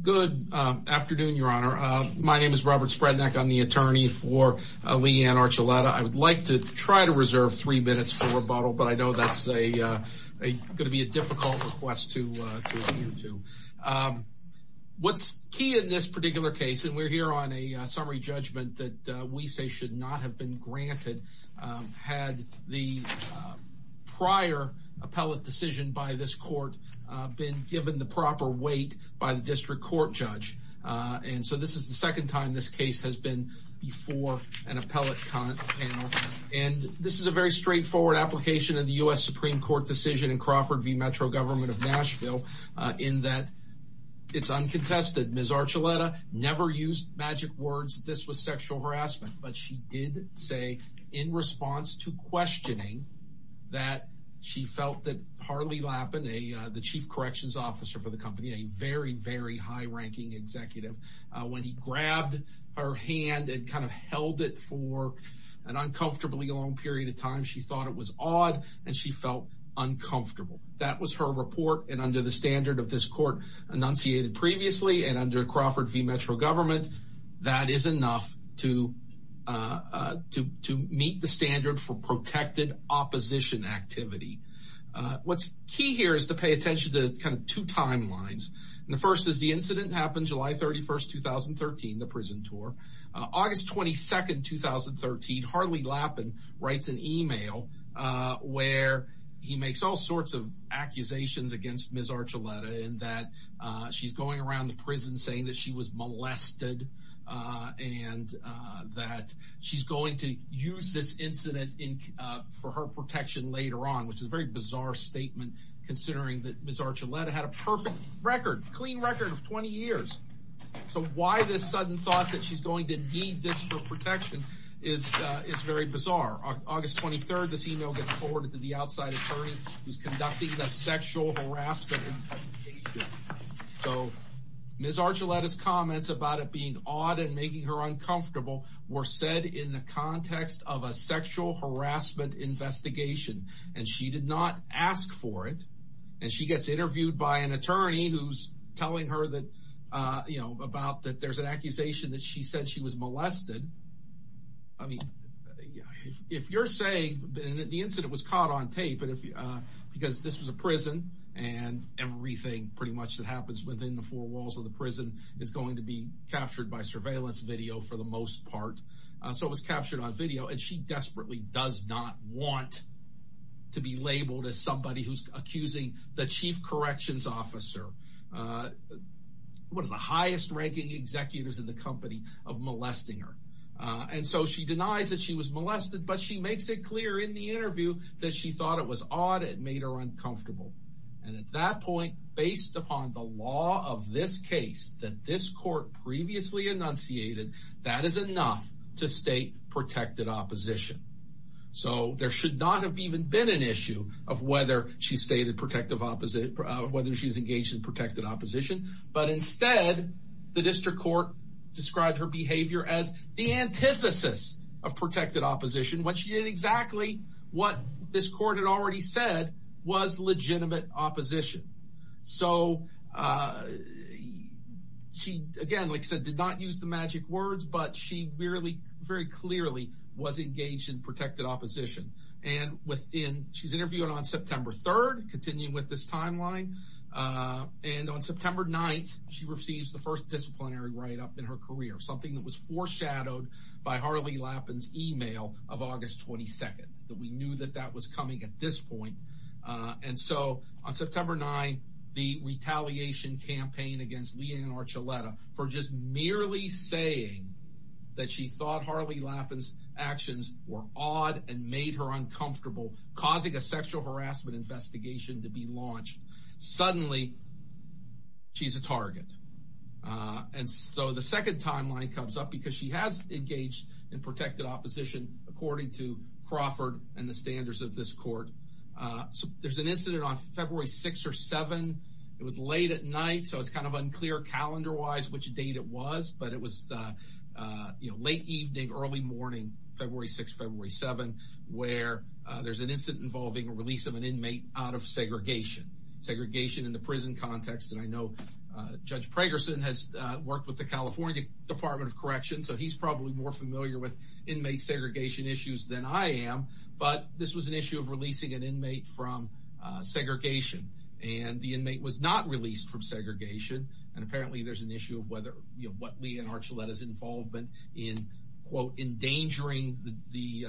Good afternoon, your honor. My name is Robert Sprednick. I'm the attorney for Leigh Ann Archuleta I would like to try to reserve three minutes for rebuttal, but I know that's a Gonna be a difficult request to What's key in this particular case and we're here on a summary judgment that we say should not have been granted had the Supreme Court judge and so this is the second time this case has been before an appellate And this is a very straightforward application of the US Supreme Court decision in Crawford v. Metro government of Nashville in that It's uncontested. Ms. Archuleta never used magic words This was sexual harassment, but she did say in response to questioning That she felt that Harley Lappin, the chief corrections officer for the company, a very very high-ranking Executive, when he grabbed her hand and kind of held it for an uncomfortably long period of time She thought it was odd and she felt Uncomfortable. That was her report and under the standard of this court enunciated previously and under Crawford v. Metro government that is enough to To meet the standard for protected opposition activity What's key here is to pay attention to kind of two timelines And the first is the incident happened July 31st 2013 the prison tour August 22nd 2013 Harley Lappin writes an email Where he makes all sorts of accusations against Ms. Archuleta in that She's going around the prison saying that she was molested and That she's going to use this incident in for her protection later on which is very bizarre statement Considering that Ms. Archuleta had a perfect record clean record of 20 years So why this sudden thought that she's going to need this for protection is It's very bizarre August 23rd this email gets forwarded to the outside attorney who's conducting the sexual harassment So Ms. Archuleta's comments about it being odd and making her uncomfortable were said in the context of a sexual harassment Investigation and she did not ask for it and she gets interviewed by an attorney who's telling her that You know about that. There's an accusation that she said she was molested. I mean if you're saying the incident was caught on tape, but if you because this was a prison and Everything pretty much that happens within the four walls of the prison is going to be captured by surveillance video for the most part So it was captured on video and she desperately does not want To be labeled as somebody who's accusing the chief corrections officer One of the highest ranking executives in the company of molesting her and so she denies that she was molested But she makes it clear in the interview that she thought it was odd It made her uncomfortable and at that point based upon the law of this case that this court Previously enunciated that is enough to state protected opposition So there should not have even been an issue of whether she stated protective opposite whether she's engaged in protected opposition but instead the district court described her behavior as the antithesis of Was legitimate opposition, so She again like said did not use the magic words But she really very clearly was engaged in protected opposition and within she's interviewing on September 3rd continuing with this timeline And on September 9th, she receives the first disciplinary write-up in her career something that was foreshadowed By Harley Lappin's email of August 22nd that we knew that that was coming at this point and so on September 9 the Retaliation campaign against Leanne Archuleta for just merely saying That she thought Harley Lappin's actions were odd and made her uncomfortable causing a sexual harassment investigation to be launched suddenly She's a target and so the second timeline comes up because she has engaged in protected opposition according to Crawford and the standards of this court There's an incident on February 6 or 7 it was late at night So it's kind of unclear calendar wise which date it was, but it was You know late evening early morning February 6 February 7 where there's an incident involving a release of an inmate out of segregation segregation in the prison context and I know Judge Pregerson has worked with the California Department of Corrections So he's probably more familiar with inmate segregation issues than I am But this was an issue of releasing an inmate from Segregation and the inmate was not released from segregation and apparently there's an issue of whether you know what Leanne Archuleta's involvement in quote endangering the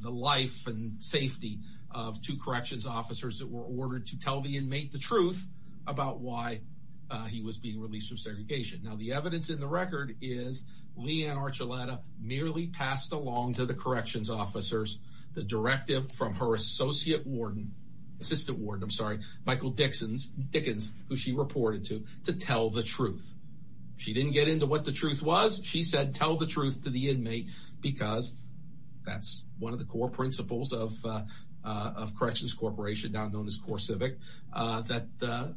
The life and safety of two corrections officers that were ordered to tell the inmate the truth about why? He was being released from segregation now the evidence in the record is Leanne Archuleta merely passed along to the corrections officers the directive from her associate warden Assistant warden. I'm sorry Michael Dickens who she reported to to tell the truth She didn't get into what the truth was. She said tell the truth to the inmate because that's one of the core principles of Corrections Corporation now known as CoreCivic that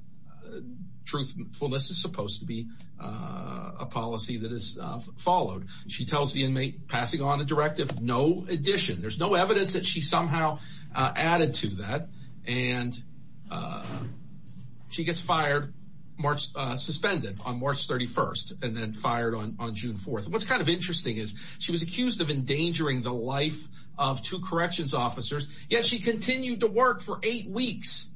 Truthfulness is supposed to be a Followed she tells the inmate passing on a directive. No addition. There's no evidence that she somehow added to that and She gets fired March suspended on March 31st and then fired on on June 4th What's kind of interesting is she was accused of endangering the life of two corrections officers yet She continued to work for eight weeks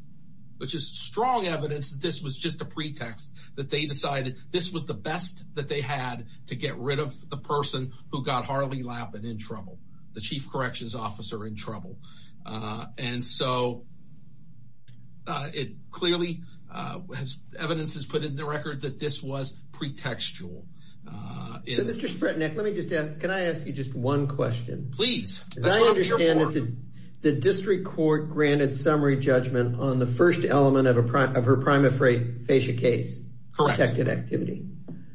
Which is strong evidence that this was just a pretext that they decided this was the best that they had To get rid of the person who got Harley Lappin in trouble the chief corrections officer in trouble and so It clearly has evidence has put in the record that this was pretextual Can I ask you just one question please The district court granted summary judgment on the first element of a prime of her prime afraid face a case Protected activity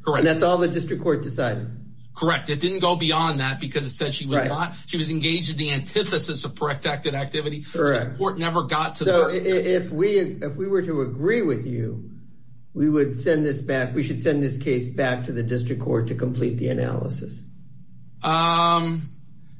correct, that's all the district court decided correct It didn't go beyond that because it said she was right on she was engaged in the antithesis of protected activity Correct court never got to know if we if we were to agree with you We would send this back. We should send this case back to the district court to complete the analysis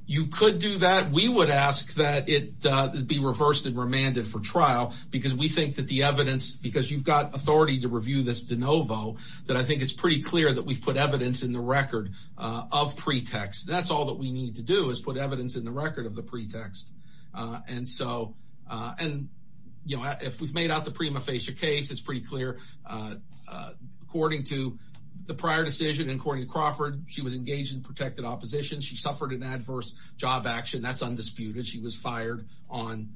You could do that we would ask that it Be reversed and remanded for trial because we think that the evidence because you've got authority to review this de novo That I think it's pretty clear that we've put evidence in the record of pretext That's all that we need to do is put evidence in the record of the pretext And so and you know if we've made out the prima facie case, it's pretty clear According to the prior decision and according to Crawford she was engaged in protected opposition. She suffered an adverse job action. That's undisputed She was fired on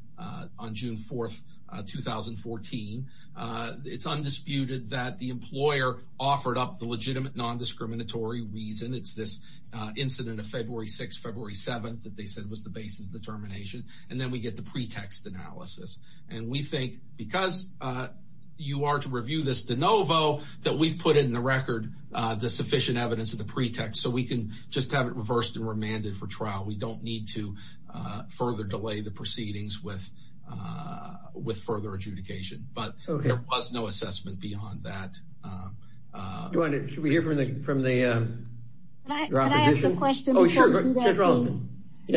on June 4th 2014 It's undisputed that the employer offered up the legitimate non-discriminatory reason It's this incident of February 6 February 7th that they said was the basis of the termination And then we get the pretext analysis, and we think because You are to review this de novo that we've put in the record The sufficient evidence of the pretext so we can just have it reversed and remanded for trial. We don't need to further delay the proceedings with With further adjudication, but there was no assessment beyond that You want it should we hear from the from the? Yes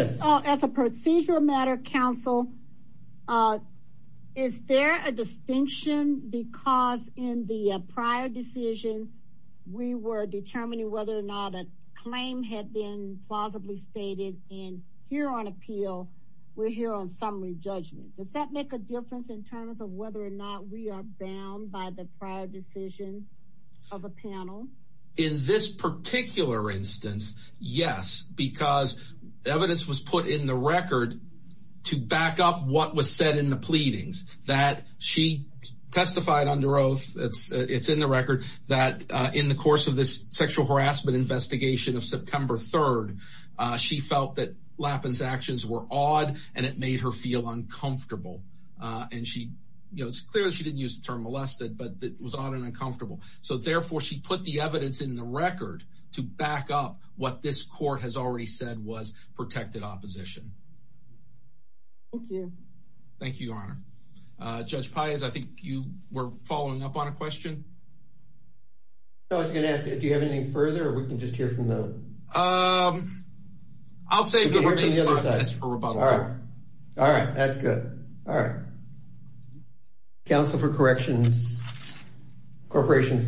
as a procedural matter counsel Is there a distinction because in the prior decision We were determining whether or not a claim had been Plausibly stated in here on appeal. We're here on summary judgment Does that make a difference in terms of whether or not we are bound by the prior decision of a panel in this? particular instance yes because Evidence was put in the record to back up what was said in the pleadings that she Testified under oath. It's it's in the record that in the course of this sexual harassment Investigation of September 3rd She felt that Lappin's actions were odd, and it made her feel uncomfortable And she you know it's clear. She didn't use the term molested, but it was odd and uncomfortable so therefore She put the evidence in the record to back up what this court has already said was protected opposition Thank You Honor Judge Pais, I think you were following up on a question I was gonna ask if you have anything further or we can just hear from the I'll say All right, that's good all right Counsel for Corrections Corporations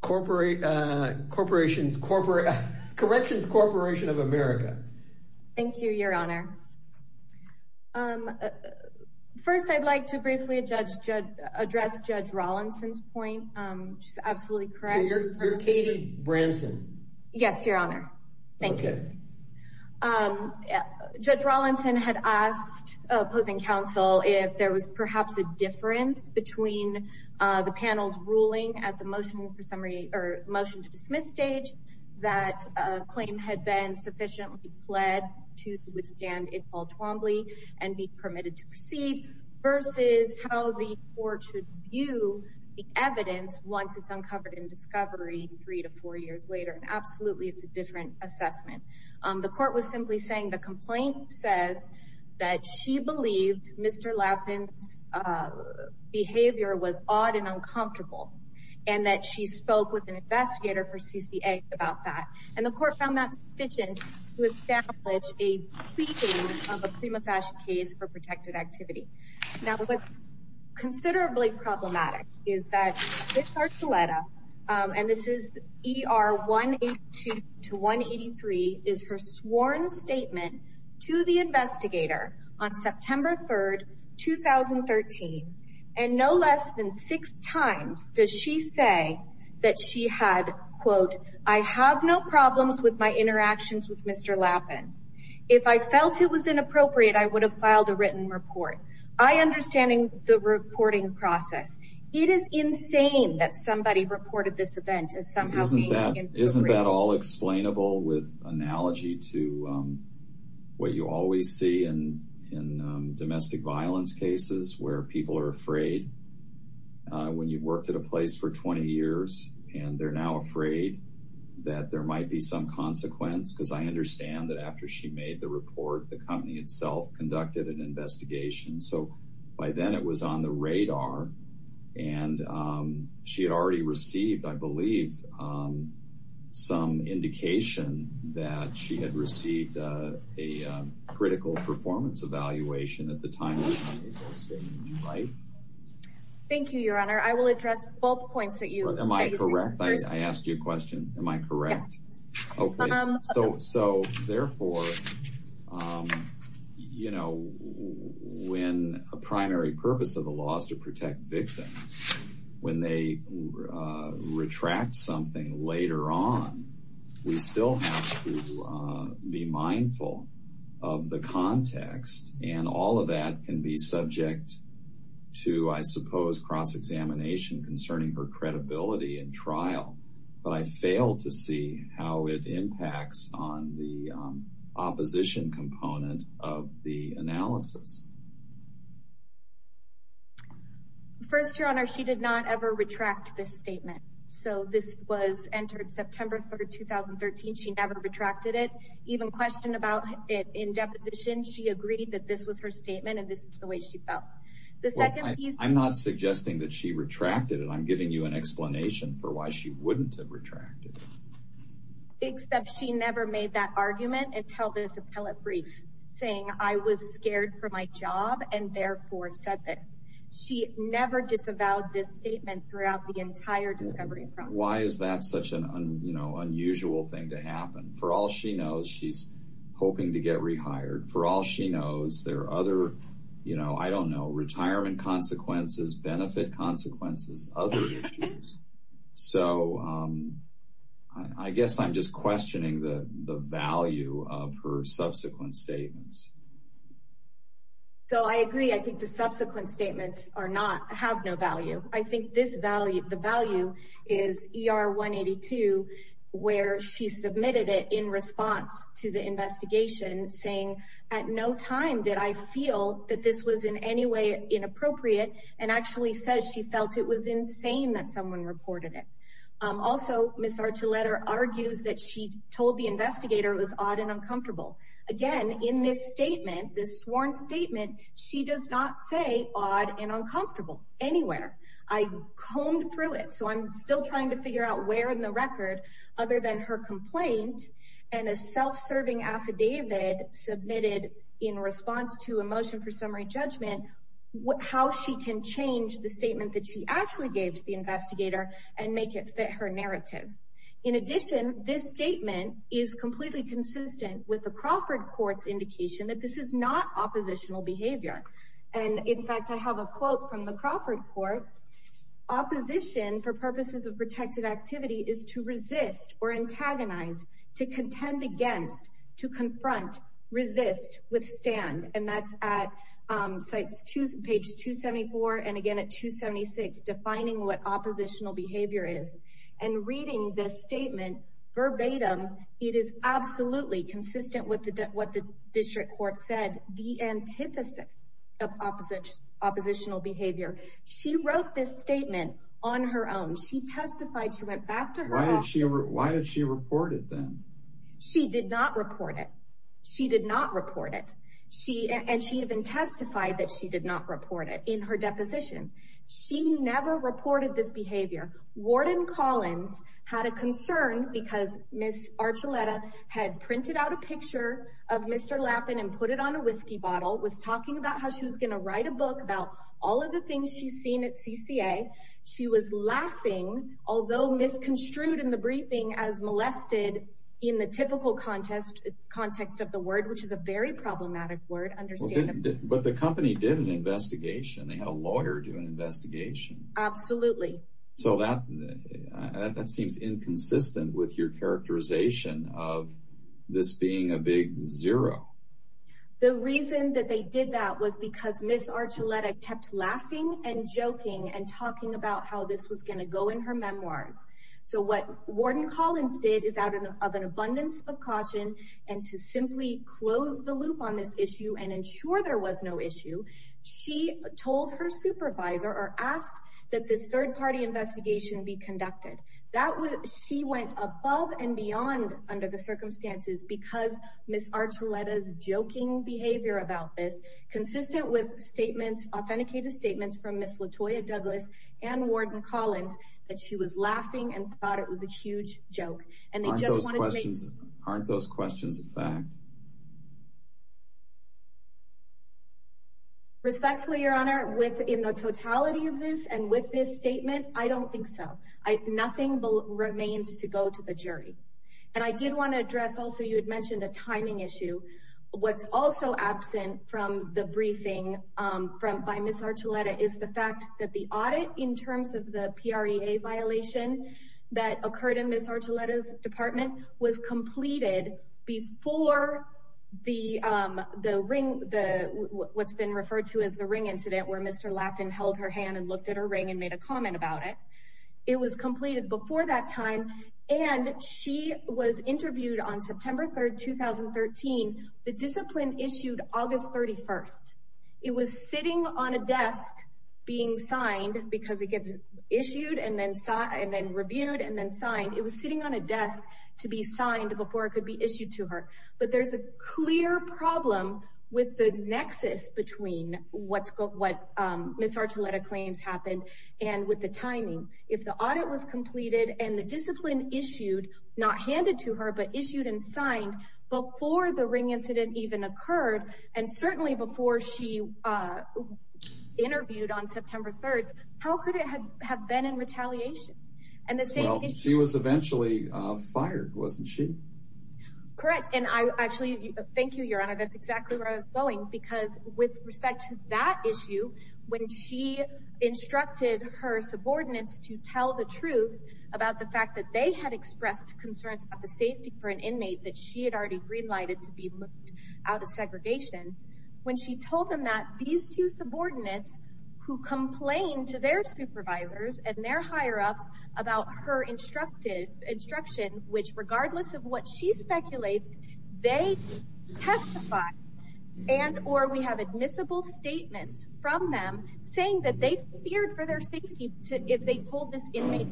Corporate corporations corporate Corrections Corporation of America Thank You Your Honor Um First I'd like to briefly a judge judge address judge Rawlinson's point. She's absolutely correct You're Katie Branson. Yes, Your Honor. Thank you Judge Rawlinson had asked opposing counsel if there was perhaps a difference between the panel's ruling at the motion for summary or motion to dismiss stage that Claim had been sufficiently pled to withstand it all Twombly and be permitted to proceed Versus how the court should view the evidence once it's uncovered in discovery three to four years later And absolutely it's a different assessment the court was simply saying the complaint says that she believed mr. Lappin's Behavior was odd and uncomfortable and that she spoke with an investigator for CCA about that and the court found that sufficient to establish a pleading of a prima facie case for protected activity now with considerably problematic is that this Archuleta And this is er 182 to 183 is her sworn statement to the investigator on September 3rd 2013 and no less than six times does she say that she had quote I have no problems with my interactions with mr. Lappin if I felt it was inappropriate I would have filed a written report. I Understanding the reporting process it is insane that somebody reported this event as somehow Isn't that all explainable with analogy to? What you always see and in domestic violence cases where people are afraid? When you've worked at a place for 20 years, and they're now afraid That there might be some consequence because I understand that after she made the report the company itself conducted an investigation so by then it was on the radar and She had already received I believe Some indication that she had received a critical performance evaluation at the time Thank you your honor, I will address both points that you am I correct I asked you a question am I correct? so so therefore You know when a primary purpose of the laws to protect victims when they retract something later on we still have to be mindful of The context and all of that can be subject To I suppose cross-examination concerning her credibility and trial but I failed to see how it impacts on the opposition component of the analysis First your honor she did not ever retract this statement, so this was entered September 3rd 2013 she never retracted it even questioned about it in deposition She agreed that this was her statement, and this is the way she felt the second I'm not suggesting that she retracted it. I'm giving you an explanation for why she wouldn't have retracted Except she never made that argument and tell this appellate brief saying I was scared for my job and therefore said this She never disavowed this statement throughout the entire discovery Why is that such an you know unusual thing to happen for all she knows she's? For all she knows there are other you know I don't know retirement consequences benefit consequences other issues so I Guess I'm just questioning the the value of her subsequent statements So I agree. I think the subsequent statements are not have no value. I think this value the value is Er 182 Where she submitted it in response to the investigation Saying at no time did I feel that this was in any way inappropriate and actually says she felt it was insane that someone reported it Also, miss our two-letter argues that she told the investigator was odd and uncomfortable again in this statement this sworn statement She does not say odd and uncomfortable Anywhere I combed through it, so I'm still trying to figure out where in the record Other than her complaint and a self-serving affidavit Submitted in response to a motion for summary judgment What how she can change the statement that she actually gave to the investigator and make it fit her narrative in addition? This statement is completely consistent with the Crawford courts indication that this is not oppositional behavior And in fact I have a quote from the Crawford Court Opposition for purposes of protected activity is to resist or antagonize to contend against to confront resist withstand and that's at sites to page 274 and again at 276 defining what oppositional behavior is and Reading this statement verbatim. It is absolutely consistent with the debt what the district court said the antithesis of opposite Oppositional behavior she wrote this statement on her own she testified she went back to why did she ever why did she report it then? She did not report it. She did not report it She and she even testified that she did not report it in her deposition She never reported this behavior Warden Collins had a concern because miss Archuleta had printed out a picture of mr. How she was gonna write a book about all of the things she's seen at CCA she was laughing Although misconstrued in the briefing as molested in the typical contest Context of the word which is a very problematic word understand, but the company did an investigation. They had a lawyer do an investigation absolutely, so that That seems inconsistent with your characterization of this being a big zero The reason that they did that was because miss Archuleta kept laughing and joking and talking about how this was gonna go in her Memoirs so what Warden Collins did is out of an abundance of caution and to simply close the loop on this issue And ensure there was no issue She told her supervisor or asked that this third-party investigation be conducted that was she went above and beyond Under the circumstances because miss Archuleta's joking behavior about this consistent with statements authenticated statements from miss Latoya Douglas and Warden Collins that she was laughing and thought it was a huge joke and they just wanted aren't those questions a fact Respectfully your honor with in the totality of this and with this statement I don't think so. I nothing will remains to go to the jury and I did want to address also You had mentioned a timing issue What's also absent from the briefing from by miss Archuleta is the fact that the audit in terms of the PRA a violation? That occurred in miss Archuleta's department was completed before the the ring the What's been referred to as the ring incident where mr. Lapton held her hand and looked at her ring and made a comment about it It was completed before that time and she was interviewed on September 3rd 2013 the discipline issued August 31st It was sitting on a desk being signed because it gets issued and then saw and then reviewed and then signed It was sitting on a desk to be signed before it could be issued to her But there's a clear problem with the nexus between What's got what? Miss Archuleta claims happened and with the timing if the audit was completed and the discipline issued not handed to her but issued and signed before the ring incident even occurred and certainly before she Interviewed on September 3rd, how could it have been in retaliation and this she was eventually fired wasn't she? Correct and I actually thank you your honor that's exactly where I was going because with respect to that issue when she instructed her subordinates to tell the truth about the fact that they had expressed concerns about the safety for an inmate that she had already Greenlighted to be moved out of segregation when she told them that these two subordinates who complain to their supervisors and their higher-ups about her Instructed instruction, which regardless of what she speculates they testify and Or we have admissible Statements from them saying that they feared for their safety to if they pulled this inmate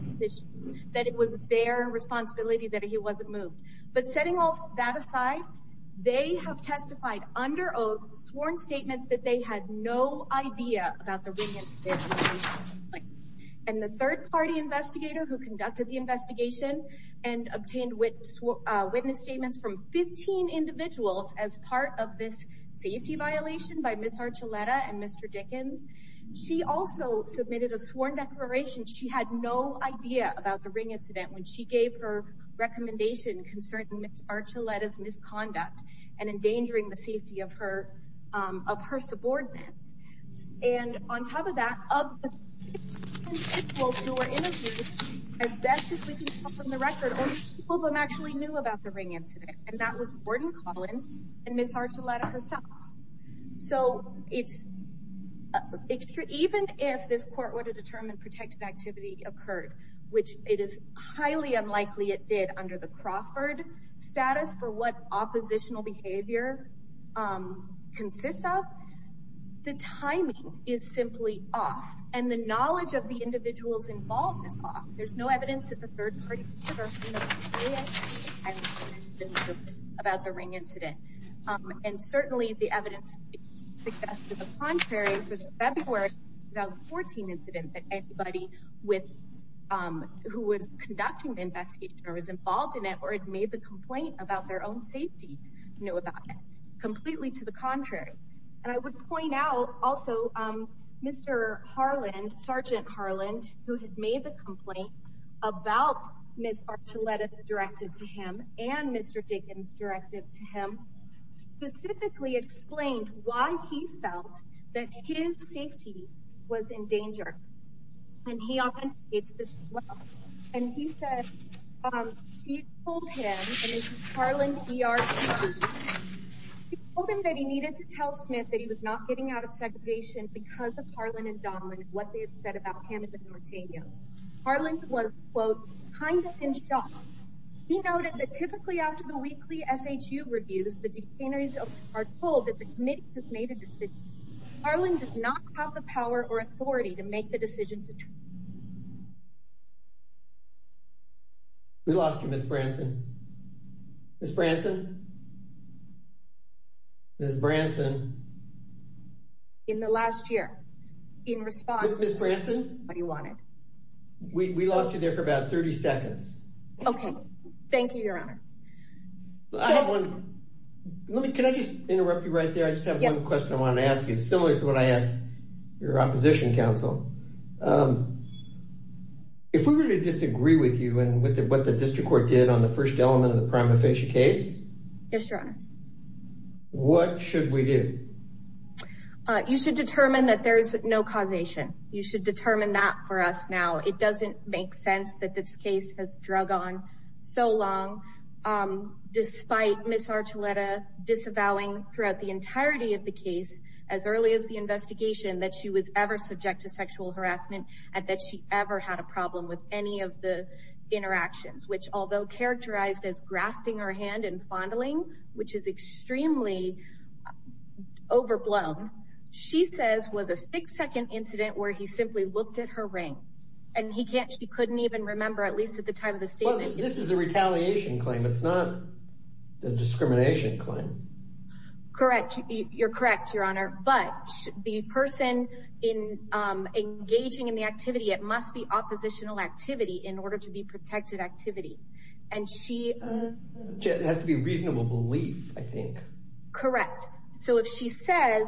That it was their responsibility that he wasn't moved but setting all that aside They have testified under oath sworn statements that they had no idea about the ring incident And the third-party investigator who conducted the investigation and obtained witness Witness statements from 15 individuals as part of this safety violation by Miss Archuleta and Mr. Dickens She also submitted a sworn declaration She had no idea about the ring incident when she gave her recommendation concerning Miss Archuleta's misconduct and endangering the safety of her of her subordinates and on top of that of the 15 individuals who were interviewed as best as we can tell from the record only a few of them actually knew about the ring incident and that was Gordon Collins and Miss Archuleta herself so it's even if this court were to determine protective activity occurred, which it is highly unlikely it did under the Crawford status for what oppositional behavior consists of but the timing is simply off and the knowledge of the individuals involved is off there's no evidence that the third-party investigator knew about the ring incident and certainly the evidence suggests to the contrary that February 2014 incident that anybody with who was conducting the investigation or was involved in it or had made the complaint about their own safety knew about it completely to the contrary and I would point out also Mr. Harland Sergeant Harland who had made the complaint about Miss Archuleta's directive to him and Mr. Dickens' directive to him specifically explained why he felt that his safety was in danger and he authenticated and he said he told him and this is Harland ERP he told him that he needed to tell Smith that he was not getting out of segregation because of Harland and Donlan and what they had said about him and the Nortenos Harland was quote, kind of in shock he noted that typically after the weekly SHU reviews the detainees are told that the committee has made a decision. Harland does not have the power or authority to make the decision to try We lost you Miss Branson Miss Branson Miss Branson In the last year In response Miss Branson We lost you there for about 30 seconds Okay Thank you your honor I have one Can I just interrupt you right there I just have one question I wanted to ask you similar to what I asked your opposition council If we were to disagree with you and what the district court did on the first element of the prima facie case Yes your honor What should we do You should determine that there is no causation. You should determine that for us now. It doesn't make sense that this case has drug on so long despite Miss Archuleta disavowing throughout the entirety of the case as early as the investigation that she was ever subject to sexual harassment and that she ever had a problem with any of the interactions which although characterized as grasping her hand and fondling which is extremely overblown she says was a six second incident where he simply looked at her ring and he couldn't even remember at least at the time of the statement This is a retaliation claim it's not a discrimination claim Correct You're correct your honor but the person engaging in the activity it must be oppositional activity in order to be protected activity It has to be reasonable belief I think Correct so if she says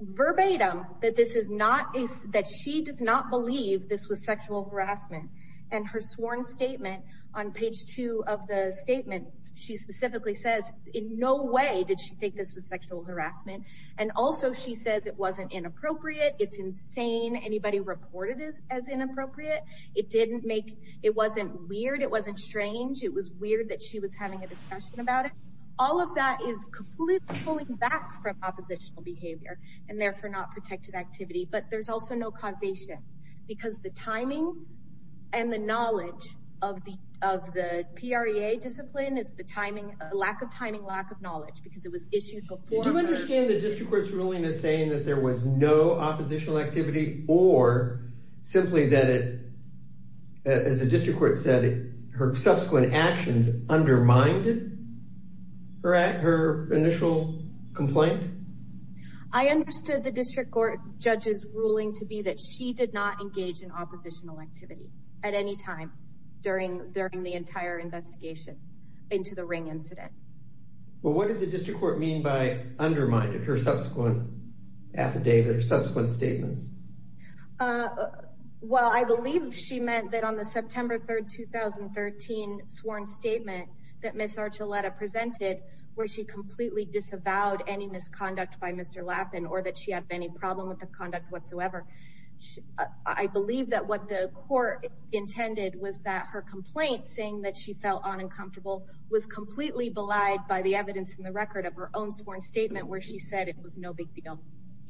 verbatim that she does not believe this was sexual harassment and her sworn statement on page two of the statement she specifically says in no way did she think this was sexual harassment and also she says it wasn't inappropriate it's insane anybody reported it as inappropriate it didn't make it wasn't weird it wasn't strange it was weird that she was having a discussion about it all of that is completely pulling back from oppositional behavior and therefore not protected activity but there's also no causation because the timing and the knowledge of the of the PREA discipline is the timing lack of timing and lack of knowledge because it was issued Did you understand the district court's ruling saying that there was no oppositional activity or simply that it as the district court said her subsequent actions undermined her initial complaint I understood the district court judges ruling to be that she did not engage in oppositional activity at any time during the entire investigation into the Ring incident Well what did the district court mean by undermined her subsequent affidavit or subsequent statements Well I believe she meant that on the September 3rd 2013 sworn statement that Ms. Archuleta presented where she completely disavowed any misconduct by Mr. Lappin or that she had any problem with the conduct whatsoever I believe that what the court intended was that her was completely belied by the evidence in the record of her own sworn statement where she said it was no big deal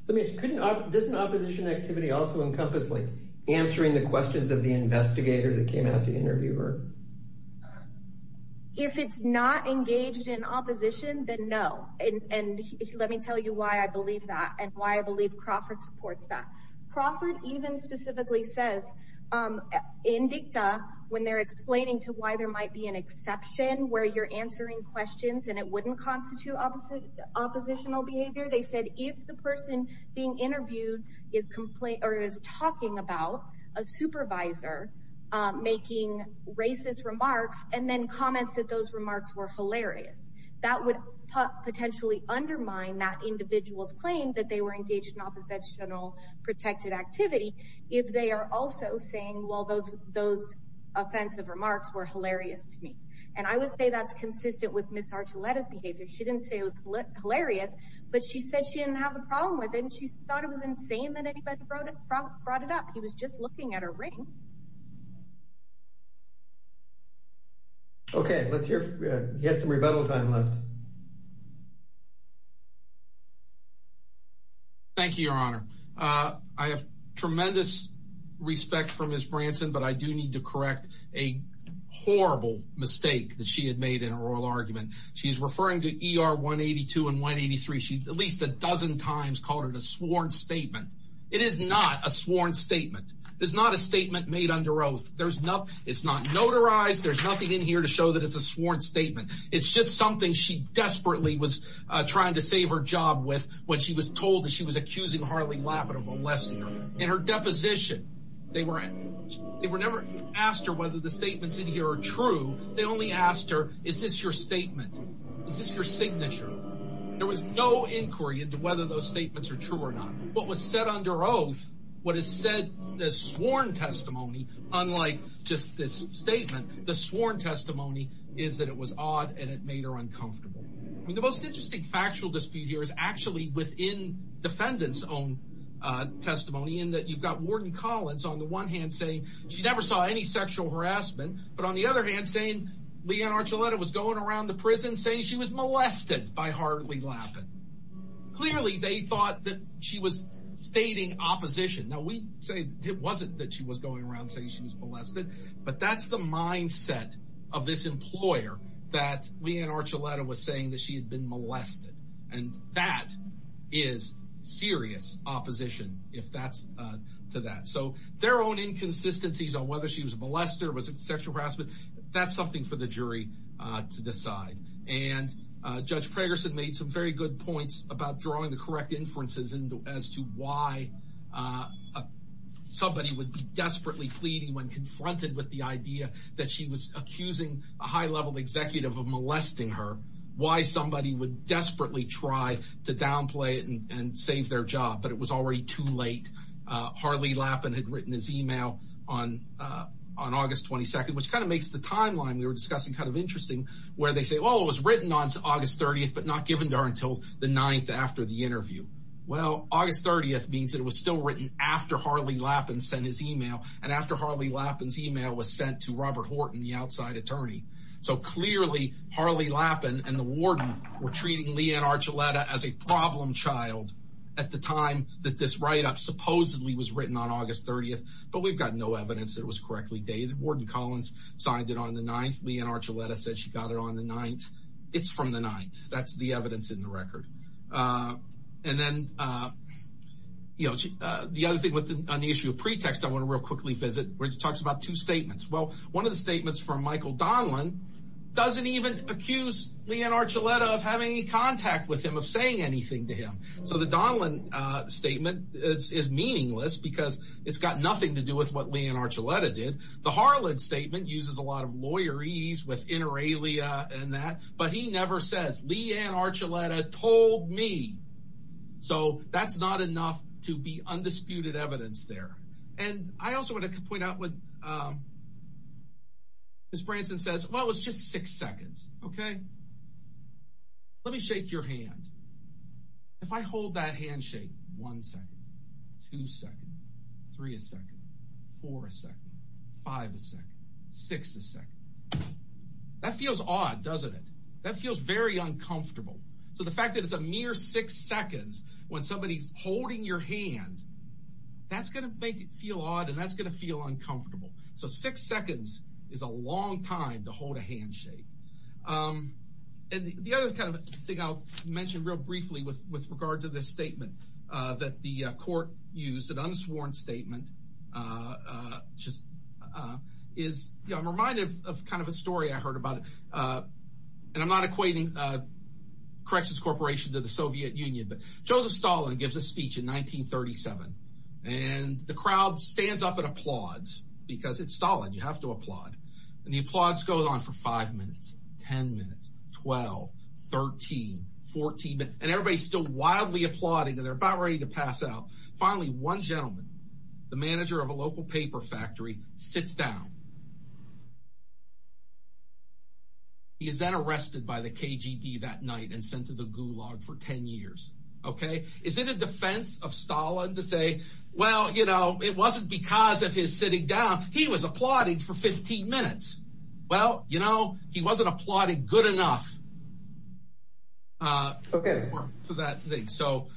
Does an opposition activity also encompass like answering the questions of the investigator that came out to interview her If it's not engaged in opposition then no and let me tell you why I believe that and why I believe Crawford supports that. Crawford even specifically says in dicta when they're an exception where you're answering questions and it wouldn't constitute oppositional behavior they said if the person being interviewed is talking about a supervisor making racist remarks and then comments that those remarks were hilarious that would potentially undermine that individual's claim that they were engaged in oppositional protected activity if they are also saying well those offensive remarks were hilarious to me and I would say that's consistent with Ms. Archuleta's behavior she didn't say it was hilarious but she said she didn't have a problem with it and she thought it was insane that anybody brought it up he was just looking at her ring Okay let's hear if we have some rebuttal time left Thank you Your Honor I have tremendous respect for Ms. Branson but I do need to correct a horrible mistake that she had made in her oral argument she's referring to ER 182 and 183 she at least a dozen times called it a sworn statement it is not a sworn statement it is not a statement made under oath there's not it's not notarized there's nothing in here to show that it's a sworn statement it's just something she desperately was trying to save her job with when she was told that she was accusing Harley Lapidum of molesting her in her deposition they were never asked her whether the statements in here are true they only asked her is this your statement is this your signature there was no inquiry into whether those statements are true or not what was said under oath what is said as sworn testimony unlike just this statement the sworn testimony is that it was odd and it made her uncomfortable the most interesting factual dispute here is actually within defendants own testimony in that you've got warden Collins on the one hand saying she never saw any sexual harassment but on the other hand saying Leanne Archuleta was going around the prison saying she was molested by Harley Lapidum clearly they thought that she was stating opposition now we say it wasn't that she was going around saying she was molested but that's the mindset of this employer that Leanne Archuleta was saying that she had been molested and that is serious opposition if that's to that so their own inconsistencies on whether she was molested or was it sexual harassment that's something for the jury to decide and Judge Pragerson made some very good points about drawing the correct inferences as to why somebody would be desperately pleading when confronted with the idea that she was accusing a high level executive of molesting her why somebody would desperately try to downplay it and save their job but it was already too late Harley Lapidum had written his email on August 22nd which kind of makes the timeline we were discussing kind of interesting where they say well it was written on August 30th but not given to her until the 9th after the interview well August 30th means it was still written after Harley Lapidum sent his email and after Harley Lapidum's email was sent to Robert Horton the outside attorney so clearly Harley Lapidum and the warden were treating Leanne Archuleta as a problem child at the time that this write up supposedly was written on August 30th but we've got no evidence that it was correctly dated Warden Collins signed it on the 9th Leanne Archuleta said she got it on the 9th it's from the 9th that's the evidence in the record and then you know the other thing on the issue of pretext I want to real quickly visit where she talks about two statements well one of the statements from Michael Donlan doesn't even accuse Leanne Archuleta of having any contact with him of saying anything to him so the Donlan statement is meaningless because it's got nothing to do with what Leanne Archuleta did the Harlan statement uses a lot of lawyer ease with inter alia and that but he never says Leanne Archuleta told me so that's not enough to be undisputed evidence there and I miss Branson says well it's just six seconds okay let me shake your hand if I hold that handshake one second two second three a second four a second five a second six a second that feels odd doesn't it that feels very uncomfortable so the fact that it's a mere six seconds when somebody's holding your hand that's gonna make it feel odd and that's gonna feel uncomfortable so six seconds is a long time to hold a handshake and the other kind of thing I'll mention real briefly with regard to this statement that the court used an unsworn statement just is reminded of kind of a story I heard about it and I'm not equating a corrections corporation to the Soviet Union but Joseph Stalin gives a speech in 1937 and the crowd stands up and applauds because it's Stalin you have to applaud and the applause goes on for five minutes ten minutes twelve thirteen fourteen and everybody's still wildly applauding and they're about ready to pass out finally one gentleman the manager of a local paper factory sits down he is then arrested by the KGD that night and sent to the Gulag for ten years okay is it a defense of Stalin to say well you know it wasn't because of his sitting down he was applauding for fifteen minutes well you know he wasn't applauding good enough for that thing so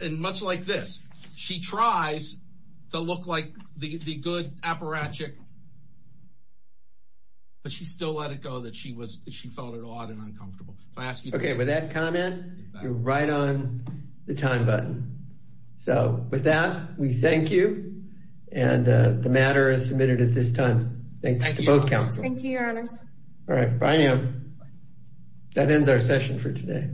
and much like this she tries to look like the good apparatchik but she still let it go that she felt it odd and uncomfortable okay with that comment you're right on the time button so with that we thank you and the matter is submitted at this time thanks to both council thank you your honors that ends our session for today